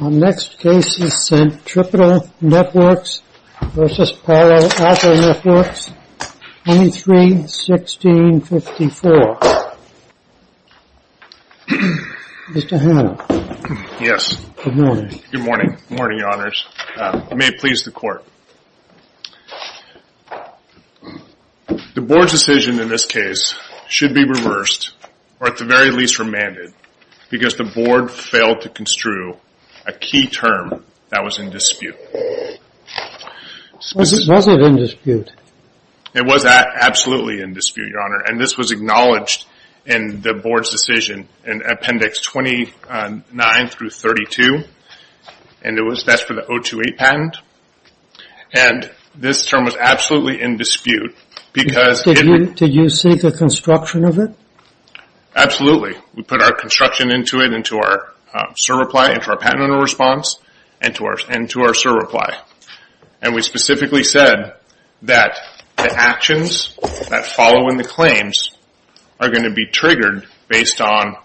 Our next case is Centripetal Networks v. Palo Alto Networks, 23-16-54. Mr. Hanna. Yes. Good morning. Good morning. Good morning, Your Honors. May it please the Court. The Board's decision in this case should be reversed, or at the very least remanded, because the Board failed to construe a key term that was in dispute. Was it in dispute? It was absolutely in dispute, Your Honor. And this was acknowledged in the Board's decision in Appendix 29-32. And that's for the 028 patent. And this term was absolutely in dispute because... Did you see the construction of it? Absolutely. We put our construction into it, into our SIR reply, into our patent under response, and to our SIR reply. And we specifically said that the actions that follow in the claims are going to be triggered based on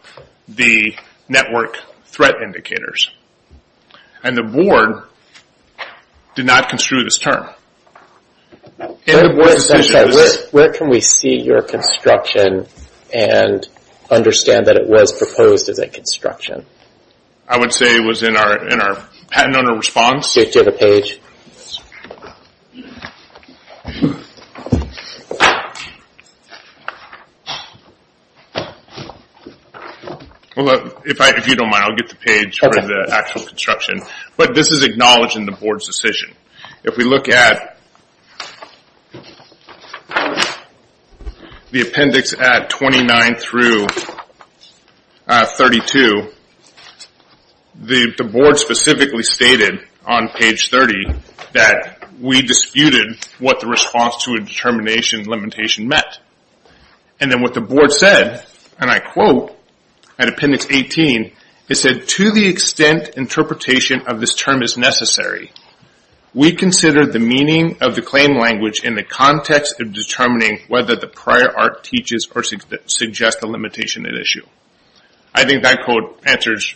the network threat indicators. And the Board did not construe this term. Where can we see your construction and understand that it was proposed as a construction? I would say it was in our patent under response. Do you have a page? If you don't mind, I'll get the page for the actual construction. But this is acknowledged in the Board's decision. If we look at the Appendix 29-32, the Board specifically stated on page 30 that we disputed what the response to a determination limitation meant. And then what the Board said, and I quote at Appendix 18, it said, to the extent interpretation of this term is necessary, we consider the meaning of the claim language in the context of determining whether the prior art teaches or suggests a limitation at issue. I think that quote answers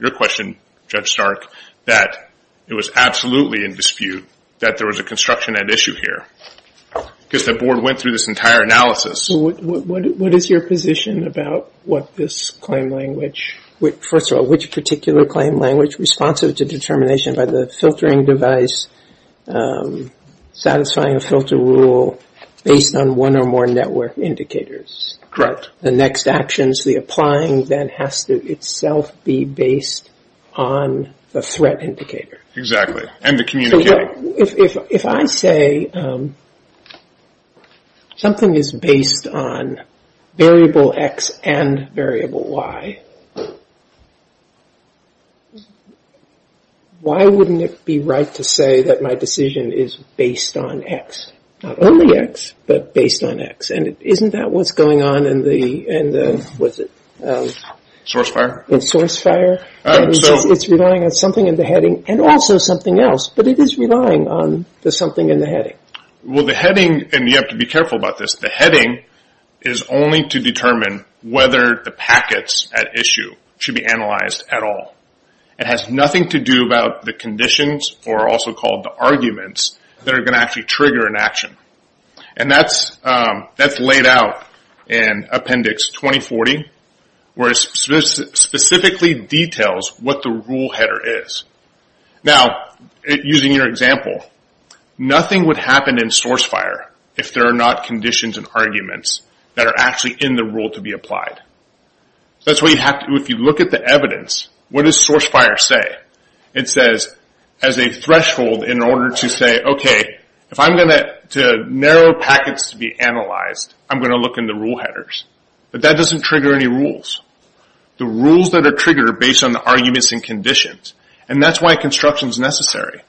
your question, Judge Stark, that it was absolutely in dispute that there was a construction at issue here because the Board went through this entire analysis. So what is your position about what this claim language? First of all, which particular claim language responsive to determination by the filtering device satisfying a filter rule based on one or more network indicators? Correct. The next actions, the applying then has to itself be based on the threat indicator. Exactly, and the communicating. If I say something is based on variable X and variable Y, why wouldn't it be right to say that my decision is based on X? Not only X, but based on X. And isn't that what's going on in the, what's it? Source fire. Source fire. It's relying on something in the heading and also something else, but it is relying on the something in the heading. Well, the heading, and you have to be careful about this, the heading is only to determine whether the packets at issue should be analyzed at all. It has nothing to do about the conditions or also called the arguments that are going to actually trigger an action. And that's laid out in Appendix 2040, where it specifically details what the rule header is. Now, using your example, nothing would happen in source fire if there are not conditions and arguments that are actually in the rule to be applied. That's what you have to do. If you look at the evidence, what does source fire say? It says as a threshold in order to say, okay, if I'm going to narrow packets to be analyzed, I'm going to look in the rule headers. But that doesn't trigger any rules. The rules that are triggered are based on the arguments and conditions, and that's why construction is necessary.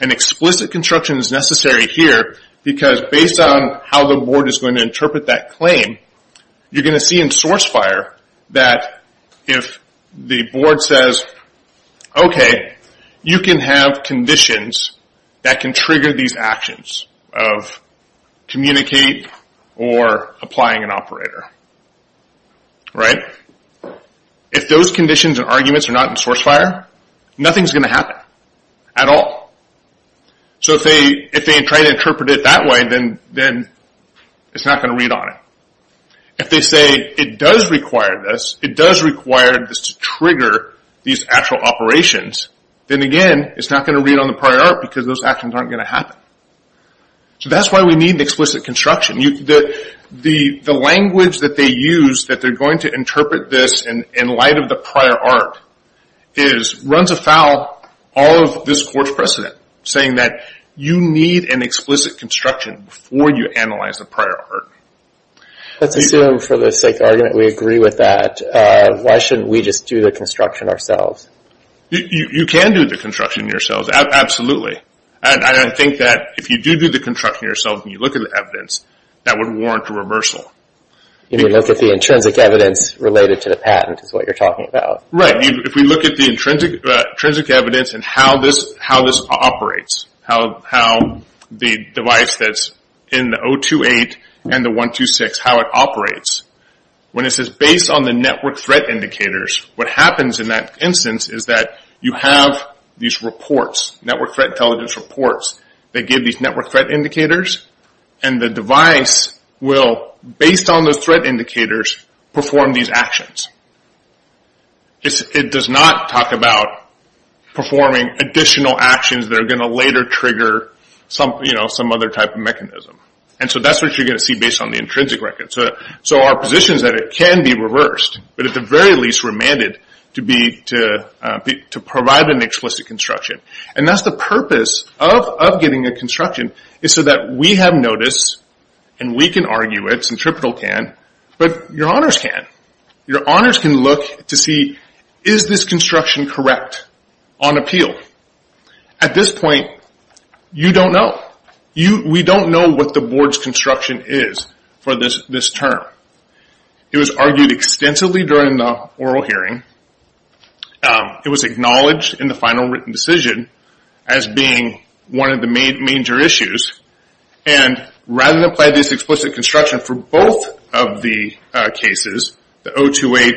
And explicit construction is necessary here, because based on how the board is going to interpret that claim, you're going to see in source fire that if the board says, okay, you can have conditions that can trigger these actions of communicate or applying an operator, right? If those conditions and arguments are not in source fire, nothing is going to happen at all. So if they try to interpret it that way, then it's not going to read on it. If they say it does require this, it does require this to trigger these actual operations, then again, it's not going to read on the prior art, because those actions aren't going to happen. So that's why we need explicit construction. The language that they use that they're going to interpret this in light of the prior art runs afoul all of this court's precedent, saying that you need an explicit construction before you analyze the prior art. Let's assume for the sake of argument we agree with that. Why shouldn't we just do the construction ourselves? You can do the construction yourselves, absolutely. And I think that if you do do the construction yourselves and you look at the evidence, that would warrant a reversal. You mean look at the intrinsic evidence related to the patent is what you're talking about. Right. If we look at the intrinsic evidence and how this operates, how the device that's in the 028 and the 126, how it operates, when it says based on the network threat indicators, what happens in that instance is that you have these reports, network threat intelligence reports, that give these network threat indicators. And the device will, based on those threat indicators, perform these actions. It does not talk about performing additional actions that are going to later trigger some other type of mechanism. And so that's what you're going to see based on the intrinsic record. So our position is that it can be reversed, but at the very least remanded to provide an explicit construction. And that's the purpose of getting a construction is so that we have notice and we can argue it, Centripetal can, but your honors can. Your honors can look to see is this construction correct on appeal. At this point, you don't know. We don't know what the board's construction is for this term. It was argued extensively during the oral hearing. It was acknowledged in the final written decision as being one of the major issues. And rather than apply this explicit construction for both of the cases, the 028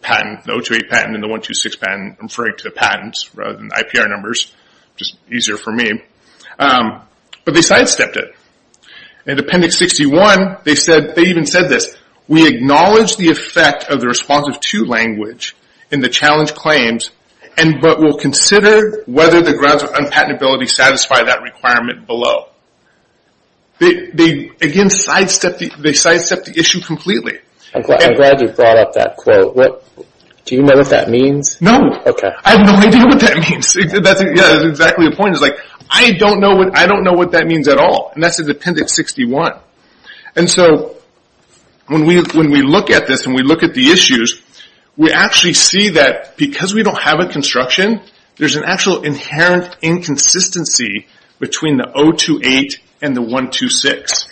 patent, the 028 patent and the 126 patent, referring to the patents rather than IPR numbers, which is easier for me, but they sidestepped it. In Appendix 61, they even said this, we acknowledge the effect of the responsive to language in the challenge claims, but we'll consider whether the grounds of unpatentability satisfy that requirement below. They, again, sidestepped the issue completely. I'm glad you brought up that quote. Do you know what that means? No. Okay. I have no idea what that means. That's exactly the point. It's like I don't know what that means at all. And that's in Appendix 61. And so when we look at this and we look at the issues, we actually see that because we don't have a construction, there's an actual inherent inconsistency between the 028 and the 126.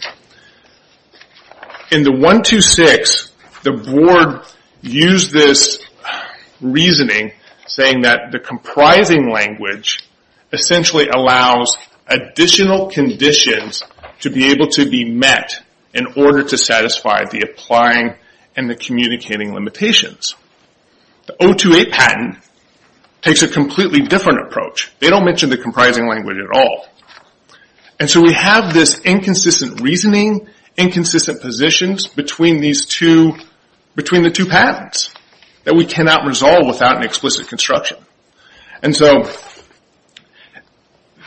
In the 126, the board used this reasoning, saying that the comprising language essentially allows additional conditions to be able to be met in order to satisfy the applying and the communicating limitations. The 028 patent takes a completely different approach. They don't mention the comprising language at all. And so we have this inconsistent reasoning, inconsistent positions between the two patents that we cannot resolve without an explicit construction. And so,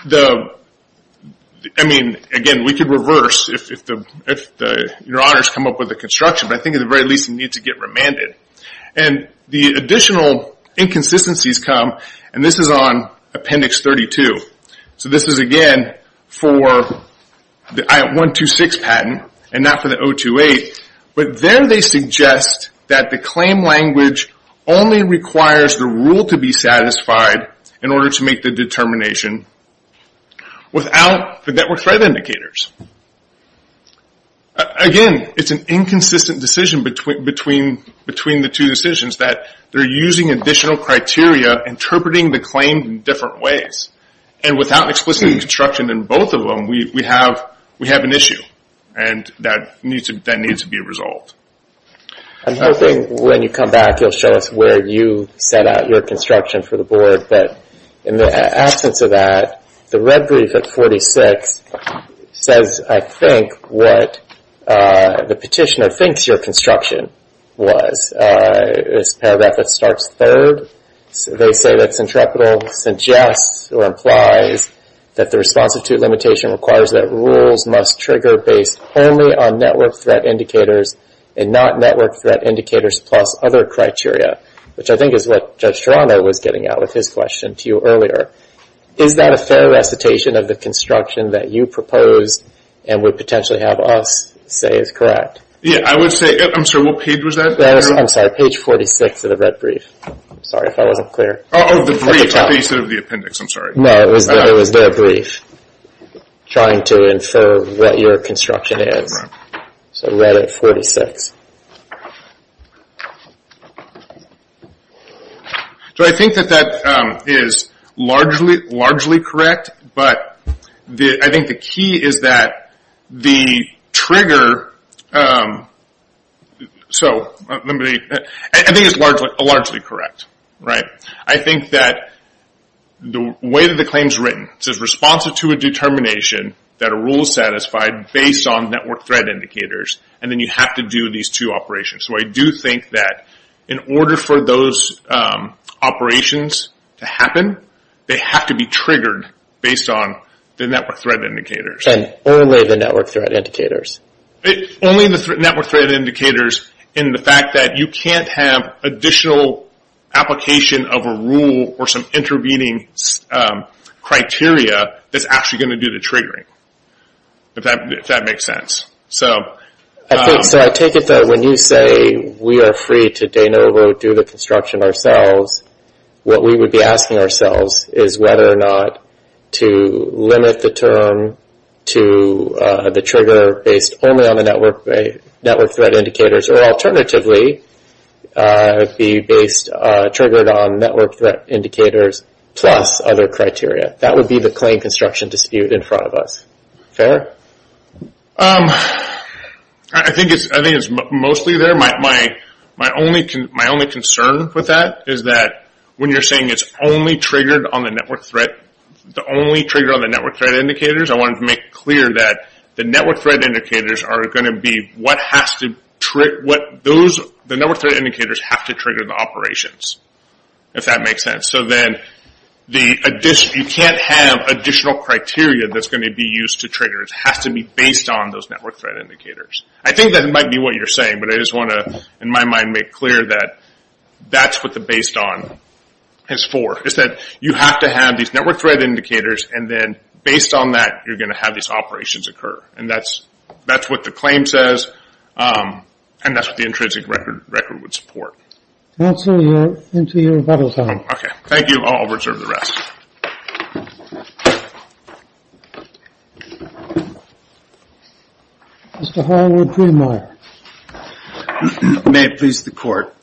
I mean, again, we could reverse if your honors come up with a construction, but I think at the very least you need to get remanded. And the additional inconsistencies come, and this is on Appendix 32. So this is, again, for the 126 patent and not for the 028. But there they suggest that the claim language only requires the rule to be satisfied in order to make the determination without the network threat indicators. Again, it's an inconsistent decision between the two decisions, that they're using additional criteria, interpreting the claim in different ways. And without explicit construction in both of them, we have an issue, and that needs to be resolved. I'm hoping when you come back, you'll show us where you set out your construction for the board. But in the absence of that, the red brief at 46 says, I think, what the petitioner thinks your construction was. It's a paragraph that starts third. They say that Centrepital suggests or implies that the response to limitation requires that rules must trigger based only on network threat indicators and not network threat indicators plus other criteria, which I think is what Judge Toronto was getting at with his question to you earlier. Is that a fair recitation of the construction that you proposed and would potentially have us say is correct? Yeah, I would say it. I'm sorry, what page was that? I'm sorry, page 46 of the red brief. I'm sorry if I wasn't clear. Oh, the brief at the base of the appendix, I'm sorry. No, it was the brief trying to infer what your construction is. So red at 46. So I think that that is largely correct, but I think the key is that the trigger, so let me, I think it's largely correct. I think that the way that the claim is written, it says response to a determination that a rule is satisfied based on network threat indicators, and then you have to do these two operations. So I do think that in order for those operations to happen, they have to be triggered based on the network threat indicators. And only the network threat indicators. Only the network threat indicators in the fact that you can't have additional application of a rule or some intervening criteria that's actually going to do the triggering, if that makes sense. So I take it that when you say we are free to de novo, do the construction ourselves, what we would be asking ourselves is whether or not to limit the term to the trigger based only on the network threat indicators, or alternatively be based, triggered on network threat indicators plus other criteria. That would be the claim construction dispute in front of us. Fair? I think it's mostly there. My only concern with that is that when you're saying it's only triggered on the network threat, the only trigger on the network threat indicators, I want to make clear that the network threat indicators are going to be what has to trigger the operations, if that makes sense. So then you can't have additional criteria that's going to be used to trigger. It has to be based on those network threat indicators. I think that might be what you're saying, but I just want to, in my mind, make clear that that's what the based on is for. It's that you have to have these network threat indicators, and then based on that, you're going to have these operations occur. And that's what the claim says, and that's what the intrinsic record would support. Counsel, you're into your rebuttal time. Okay. Thank you. I'll reserve the rest. Mr. Hallward-Greenmeier. May it please the Court.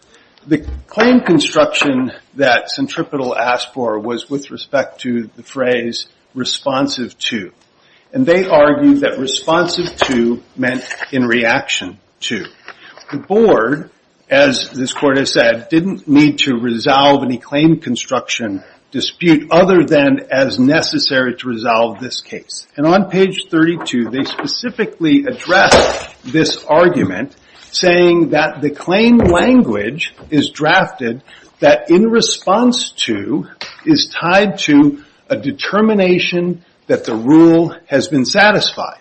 The claim construction that Centripetal asked for was with respect to the phrase responsive to. And they argued that responsive to meant in reaction to. The Board, as this Court has said, didn't need to resolve any claim construction dispute other than as necessary to resolve this case. And on page 32, they specifically addressed this argument, saying that the claim language is drafted that in response to is tied to a determination that the rule has been satisfied.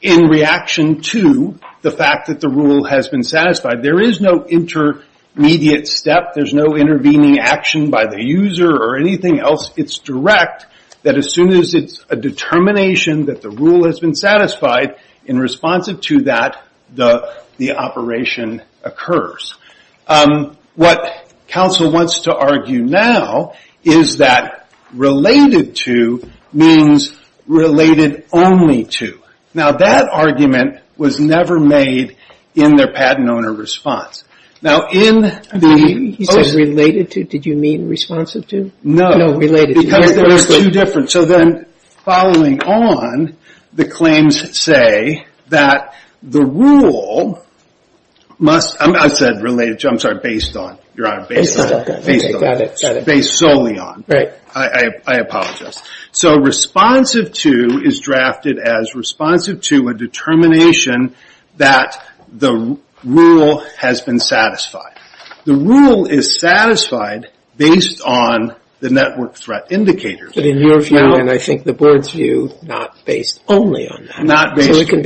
In reaction to the fact that the rule has been satisfied, there is no intermediate step. There's no intervening action by the user or anything else. It's direct that as soon as it's a determination that the rule has been satisfied, in response to that, the operation occurs. What counsel wants to argue now is that related to means related only to. Now, that argument was never made in their patent owner response. Now, in the- He said related to. Did you mean responsive to? No. No, related to. So then following on, the claims say that the rule must- I said related to. I'm sorry. Based on. Based solely on. I apologize. So responsive to is drafted as responsive to a determination that the rule has been satisfied. The rule is satisfied based on the network threat indicator. But in your view, and I think the board's view, not based only on that. Not based only on. So it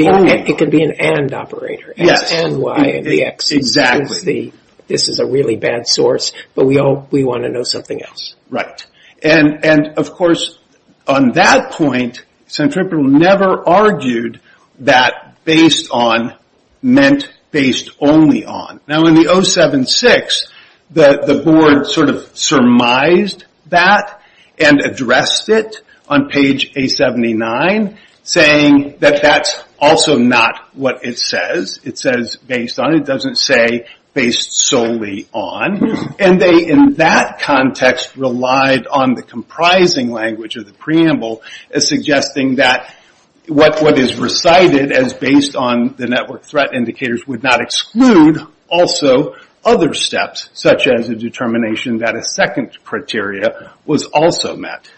can be an and operator. Yes. X and Y and the X. Exactly. This is a really bad source, but we want to know something else. Right. And, of course, on that point, Centripetal never argued that based on meant based only on. Now, in the 076, the board sort of surmised that and addressed it on page 879, saying that that's also not what it says. It says based on. It doesn't say based solely on. And they, in that context, relied on the comprising language of the preamble as suggesting that what is recited as based on the network threat indicators would not exclude also other steps, such as a determination that a second criteria was also met.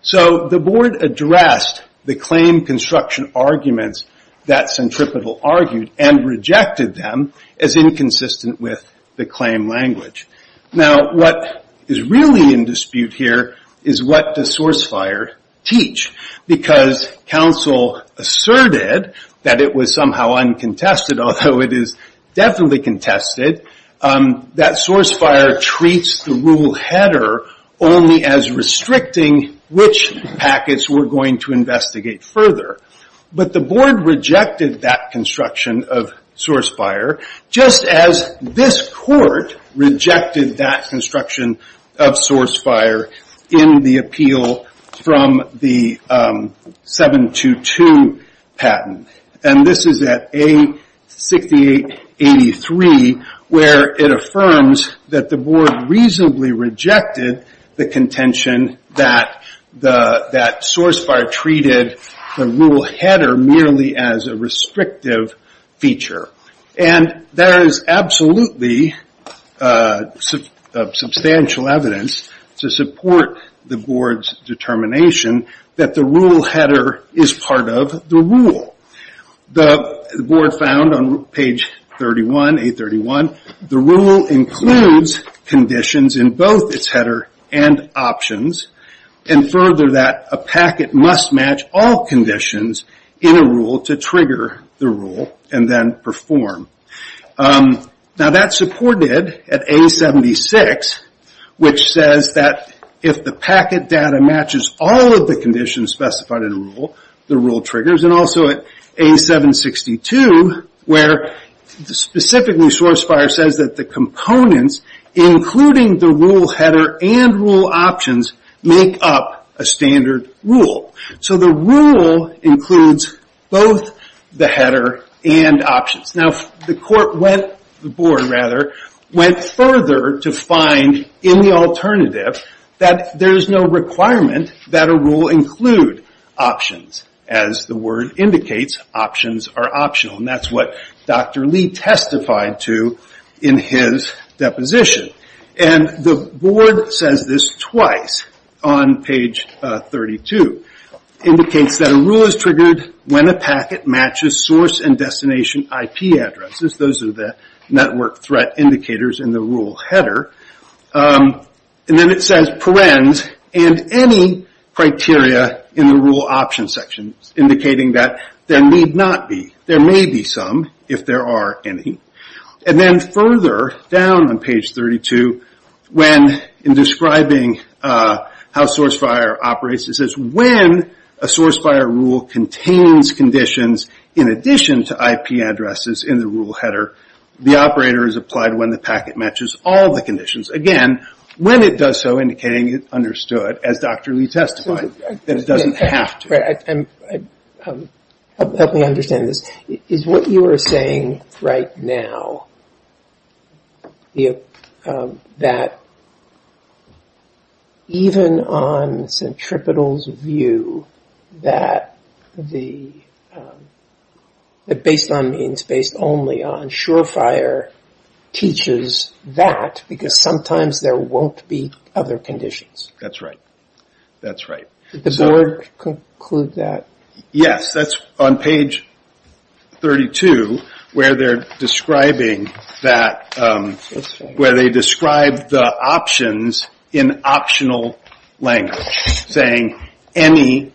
So the board addressed the claim construction arguments that Centripetal argued and rejected them as inconsistent with the claim language. Now, what is really in dispute here is what does SourceFire teach? Because counsel asserted that it was somehow uncontested, although it is definitely contested, that SourceFire treats the rule header only as restricting which packets we're going to investigate further. But the board rejected that construction of SourceFire, just as this court rejected that construction of SourceFire in the appeal from the 722 patent. And this is at A6883, where it affirms that the board reasonably rejected the contention that SourceFire treated the rule header merely as a restrictive feature. And there is absolutely substantial evidence to support the board's determination that the rule header is part of the rule. The board found on page 31, A31, the rule includes conditions in both its header and options, and further that a packet must match all conditions in a rule to trigger the rule and then perform. Now that's supported at A76, which says that if the packet data matches all of the conditions specified in a rule, the rule triggers. And also at A762, where specifically SourceFire says that the components, including the rule header and rule options, make up a standard rule. So the rule includes both the header and options. Now the court went, the board rather, went further to find in the alternative that there is no requirement that a rule include options. As the word indicates, options are optional. And that's what Dr. Lee testified to in his deposition. And the board says this twice on page 32. Indicates that a rule is triggered when a packet matches source and destination IP addresses. Those are the network threat indicators in the rule header. And then it says parens and any criteria in the rule options section, indicating that there need not be. There may be some, if there are any. And then further down on page 32, when in describing how SourceFire operates, it says when a SourceFire rule contains conditions in addition to IP addresses in the rule header, the operator is applied when the packet matches all the conditions. Again, when it does so, indicating it's understood, as Dr. Lee testified, that it doesn't have to. Help me understand this. Is what you are saying right now, that even on Centripetal's view, that based on means, based only on SureFire, teaches that, because sometimes there won't be other conditions? That's right. That's right. Did the board conclude that? Yes, that's on page 32, where they're describing that, where they describe the options in optional language, saying any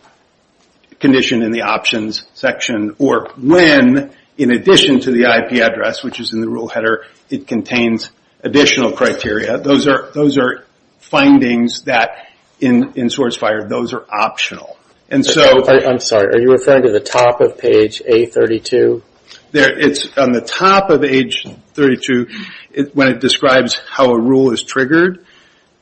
condition in the options section, or when, in addition to the IP address, which is in the rule header, it contains additional criteria. Those are findings that, in SourceFire, those are optional. I'm sorry, are you referring to the top of page A32? It's on the top of page 32, when it describes how a rule is triggered.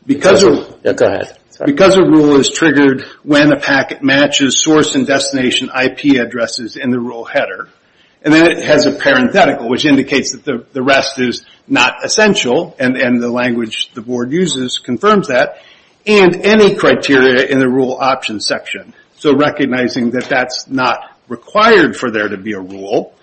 Go ahead. Because a rule is triggered when a packet matches source and destination IP addresses in the rule header, and then it has a parenthetical, which indicates that the rest is not essential, and the language the board uses confirms that, and any criteria in the rule options section, so recognizing that that's not required for there to be a rule.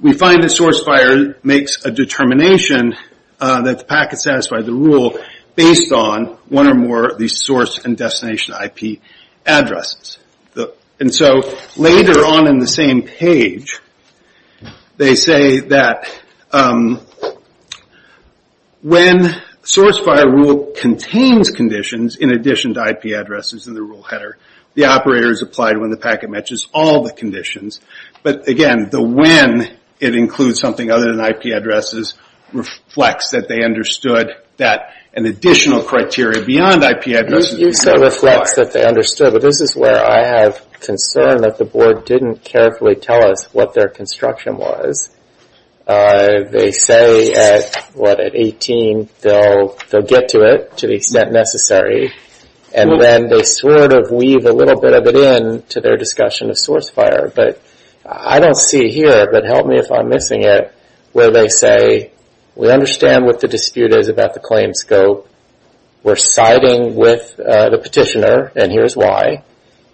We find that SourceFire makes a determination that the packet satisfies the rule based on one or more of these source and destination IP addresses. And so later on in the same page, they say that when SourceFire rule contains conditions, in addition to IP addresses in the rule header, the operator is applied when the packet matches all the conditions. But again, the when it includes something other than IP addresses reflects that they understood that an additional criteria beyond IP addresses is not required. But this is where I have concern that the board didn't carefully tell us what their construction was. They say at, what, at 18, they'll get to it to the extent necessary, and then they sort of weave a little bit of it in to their discussion of SourceFire. But I don't see it here, but help me if I'm missing it, where they say, we understand what the dispute is about the claim scope. We're siding with the petitioner, and here's why.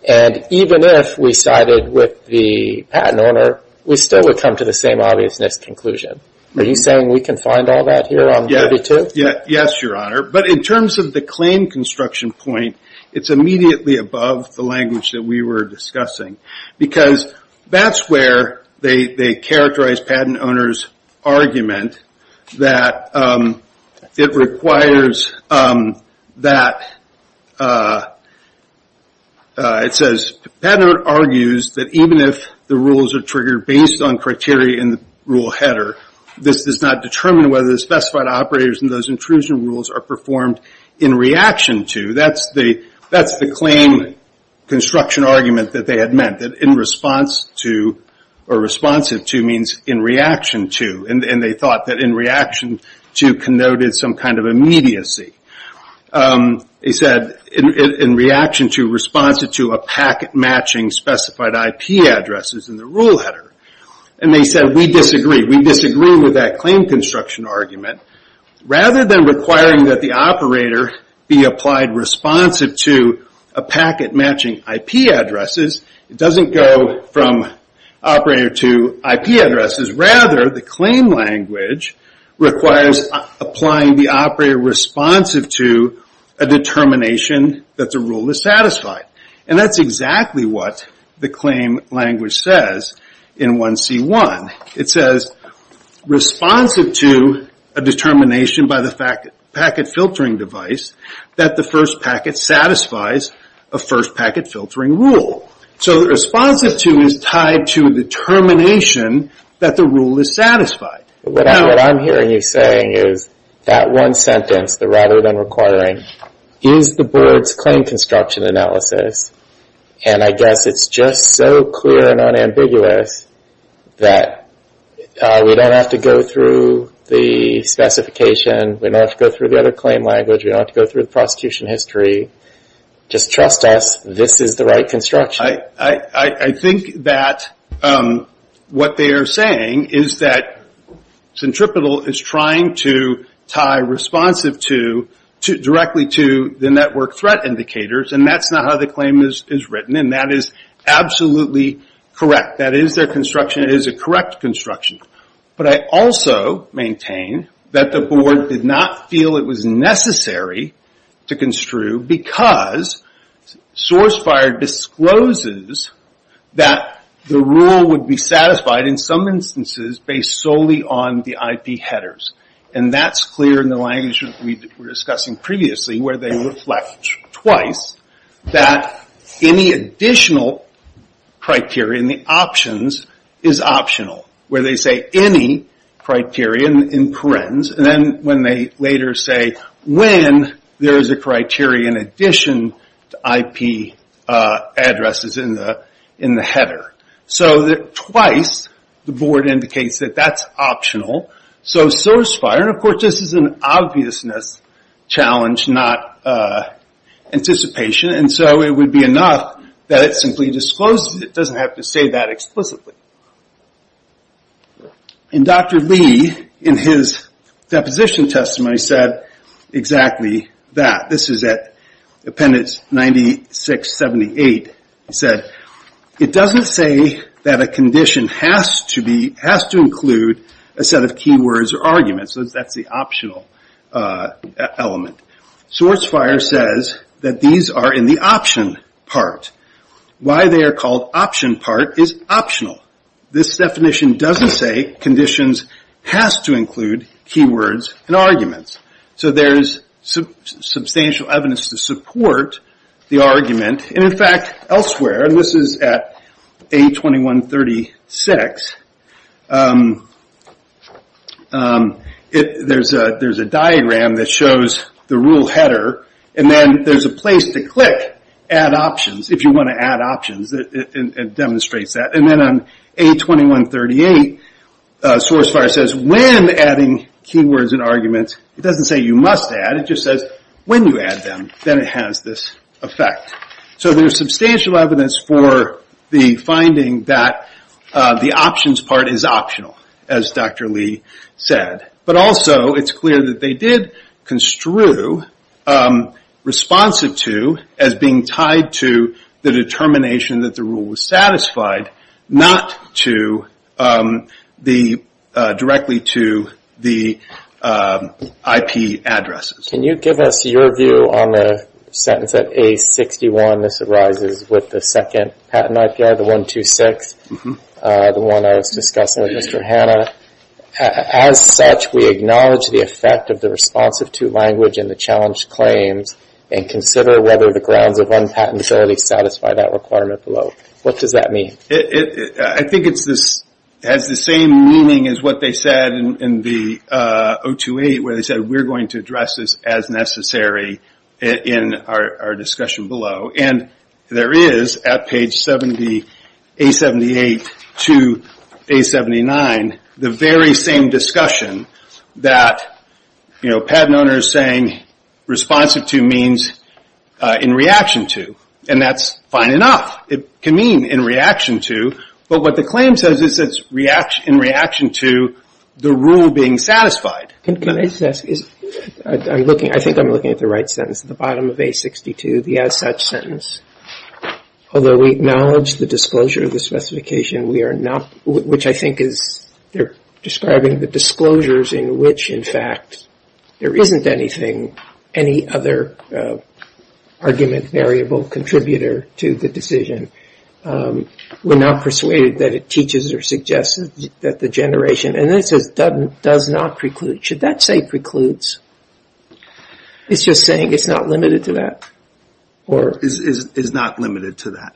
And even if we sided with the patent owner, we still would come to the same obviousness conclusion. Are you saying we can find all that here on 32? Yes, Your Honor. But in terms of the claim construction point, it's immediately above the language that we were discussing. Because that's where they characterize patent owner's argument that it requires that, it says, patent owner argues that even if the rules are triggered based on criteria in the rule header, this does not determine whether the specified operators in those intrusion rules are performed in reaction to. That's the claim construction argument that they had meant, that in response to, or responsive to means in reaction to. And they thought that in reaction to connoted some kind of immediacy. They said, in reaction to, responsive to, a packet matching specified IP addresses in the rule header. And they said, we disagree. We disagree with that claim construction argument. Rather than requiring that the operator be applied responsive to a packet matching IP addresses, it doesn't go from operator to IP addresses. Rather, the claim language requires applying the operator responsive to a determination that the rule is satisfied. And that's exactly what the claim language says in 1C1. It says, responsive to a determination by the packet filtering device, that the first packet satisfies a first packet filtering rule. So responsive to is tied to a determination that the rule is satisfied. What I'm hearing you saying is that one sentence, the rather than requiring, is the board's claim construction analysis. And I guess it's just so clear and unambiguous that we don't have to go through the specification. We don't have to go through the other claim language. We don't have to go through the prosecution history. Just trust us, this is the right construction. I think that what they are saying is that Centripetal is trying to tie responsive to, directly to the network threat indicators. And that's not how the claim is written. And that is absolutely correct. That is their construction. It is a correct construction. But I also maintain that the board did not feel it was necessary to construe, because SourceFire discloses that the rule would be satisfied, in some instances, based solely on the IP headers. And that's clear in the language we were discussing previously, where they reflect twice that any additional criteria in the options is optional. Where they say any criteria in parens, and then when they later say when there is a criteria in addition to IP addresses in the header. So twice the board indicates that that's optional. So SourceFire, and of course this is an obviousness challenge, not anticipation. And so it would be enough that it simply discloses it. It doesn't have to say that explicitly. And Dr. Lee, in his deposition testimony, said exactly that. This is at appendix 9678. He said, it doesn't say that a condition has to include a set of keywords or arguments. That's the optional element. SourceFire says that these are in the option part. Why they are called option part is optional. This definition doesn't say conditions has to include keywords and arguments. So there is substantial evidence to support the argument. And in fact, elsewhere, this is at A2136. There is a diagram that shows the rule header. And then there is a place to click add options, if you want to add options. It demonstrates that. And then on A2138, SourceFire says when adding keywords and arguments. It doesn't say you must add. It just says when you add them, then it has this effect. So there is substantial evidence for the finding that the options part is optional, as Dr. Lee said. But also, it's clear that they did construe responsive to as being tied to the determination that the rule was satisfied. Not directly to the IP addresses. Can you give us your view on the sentence at A61. This arises with the second patent IPR, the 126. The one I was discussing with Mr. Hanna. As such, we acknowledge the effect of the responsive to language in the challenged claims. And consider whether the grounds of unpatentability satisfy that requirement below. What does that mean? I think it has the same meaning as what they said in the 028. Where they said we are going to address this as necessary in our discussion below. There is, at page A78 to A79, the very same discussion that patent owners saying responsive to means in reaction to. And that's fine enough. It can mean in reaction to. But what the claim says is it's in reaction to the rule being satisfied. I think I'm looking at the right sentence at the bottom of A62. The as such sentence. Although we acknowledge the disclosure of the specification, which I think is describing the disclosures in which, in fact, there isn't anything, any other argument, variable, contributor to the decision. We're not persuaded that it teaches or suggests that the generation. And then it says does not preclude. Should that say precludes? It's just saying it's not limited to that. It's not limited to that.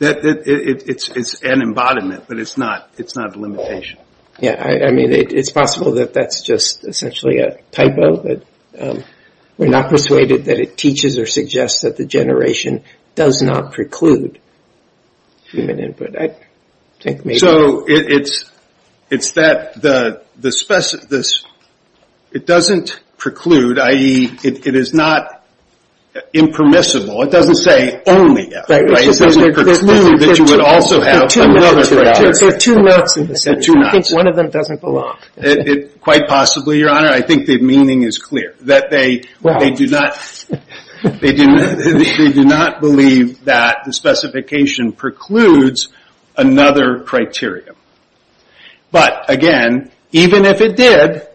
It's an embodiment, but it's not a limitation. Yeah, I mean, it's possible that that's just essentially a typo. We're not persuaded that it teaches or suggests that the generation does not preclude human input. So it's that it doesn't preclude, i.e., it is not impermissible. It doesn't say only. It doesn't preclude that you would also have another. There are two nots in the sentence. I think one of them doesn't belong. Quite possibly, Your Honor. I think the meaning is clear. They do not believe that the specification precludes another criteria. But, again, even if it did,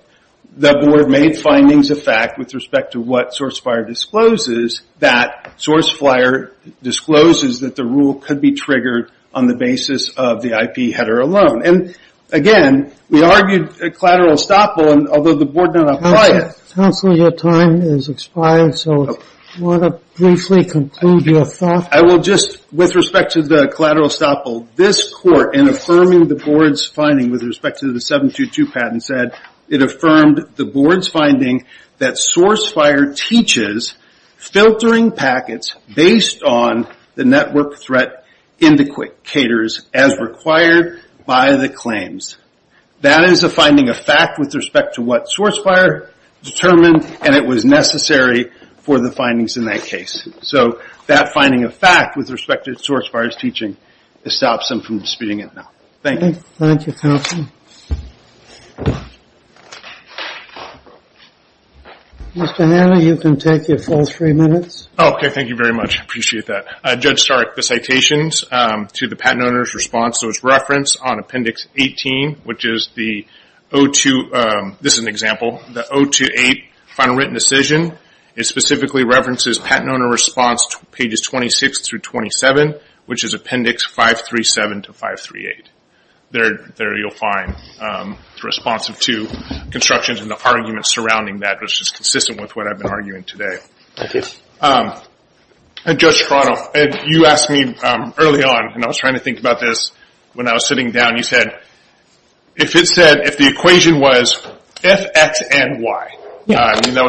the Board made findings of fact with respect to what SourceFlyer discloses, that SourceFlyer discloses that the rule could be triggered on the basis of the IP header alone. And, again, we argued collateral estoppel, although the Board did not apply it. Counselor, your time has expired, so I want to briefly conclude your thought. I will just, with respect to the collateral estoppel, this Court, in affirming the Board's finding with respect to the 722 patent, said it affirmed the Board's finding that SourceFlyer teaches filtering packets based on the network threat indicators as required by the claims. That is a finding of fact with respect to what SourceFlyer determined, and it was necessary for the findings in that case. So that finding of fact with respect to SourceFlyer's teaching stops them from disputing it now. Thank you. Thank you, Counselor. Mr. Hanley, you can take your full three minutes. Okay, thank you very much. I appreciate that. Judge Starr, the citations to the patent owner's response was referenced on Appendix 18, which is the 028 Final Written Decision. It specifically references patent owner response pages 26 through 27, which is Appendix 537 to 538. There you'll find the response of two constructions and the argument surrounding that, which is consistent with what I've been arguing today. Thank you. Judge Strano, you asked me early on, and I was trying to think about this when I was sitting down, you said if the equation was if X and Y. That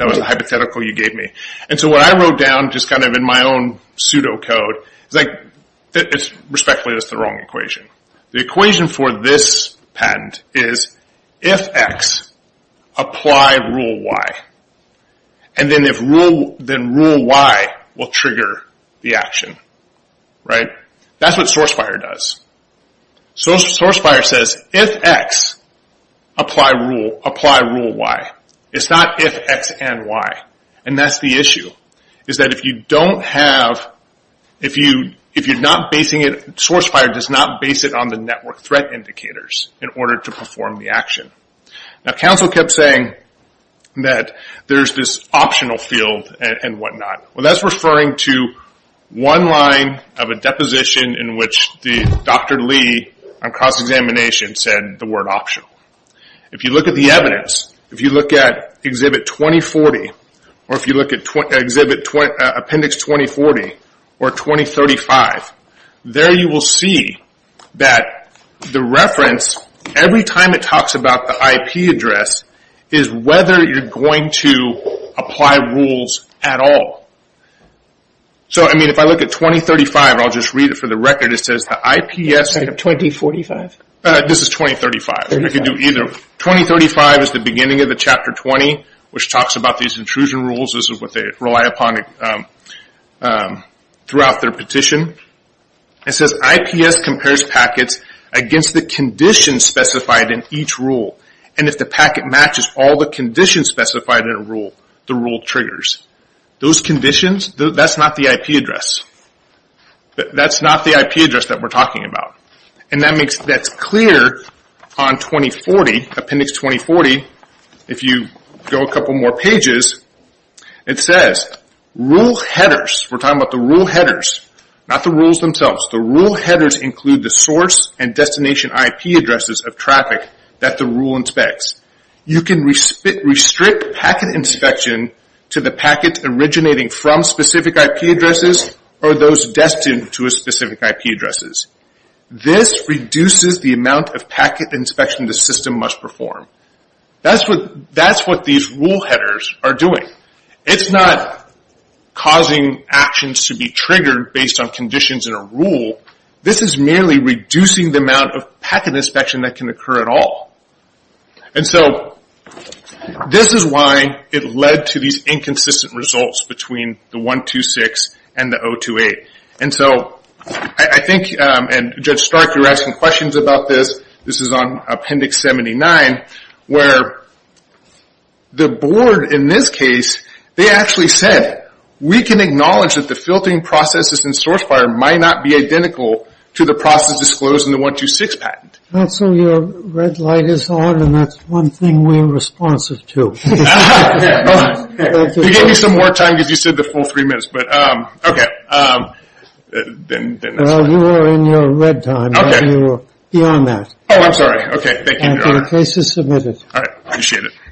was the hypothetical you gave me. And so what I wrote down, just kind of in my own pseudocode, is respectfully that's the wrong equation. The equation for this patent is if X, apply rule Y. And then rule Y will trigger the action. Right? That's what source fire does. Source fire says if X, apply rule Y. It's not if X and Y. And that's the issue, is that if you don't have, if you're not basing it, source fire does not base it on the network threat indicators in order to perform the action. Now counsel kept saying that there's this optional field and whatnot. Well, that's referring to one line of a deposition in which Dr. Lee, on cross-examination, said the word optional. If you look at the evidence, if you look at Exhibit 2040, or if you look at Appendix 2040 or 2035, there you will see that the reference, every time it talks about the IP address, is whether you're going to apply rules at all. So, I mean, if I look at 2035, I'll just read it for the record, it says the IPS... 2045. This is 2035. 2035 is the beginning of the Chapter 20, which talks about these intrusion rules. This is what they rely upon throughout their petition. It says IPS compares packets against the conditions specified in each rule. And if the packet matches all the conditions specified in a rule, the rule triggers. Those conditions, that's not the IP address. That's not the IP address that we're talking about. And that's clear on 2040, Appendix 2040. If you go a couple more pages, it says rule headers. We're talking about the rule headers, not the rules themselves. The rule headers include the source and destination IP addresses of traffic that the rule inspects. You can restrict packet inspection to the packet originating from specific IP addresses or those destined to a specific IP addresses. This reduces the amount of packet inspection the system must perform. That's what these rule headers are doing. It's not causing actions to be triggered based on conditions in a rule. This is merely reducing the amount of packet inspection that can occur at all. And so this is why it led to these inconsistent results between the 126 and the 028. And so I think, and Judge Stark, you were asking questions about this. This is on Appendix 79, where the board in this case, they actually said, we can acknowledge that the filtering processes in SourceFire might not be identical to the process disclosed in the 126 patent. So your red light is on, and that's one thing we're responsive to. You gave me some more time because you said the full three minutes, but okay. Well, you were in your red time. You were beyond that. Oh, I'm sorry. Thank you, Your Honor. The case is submitted. All right. Appreciate it.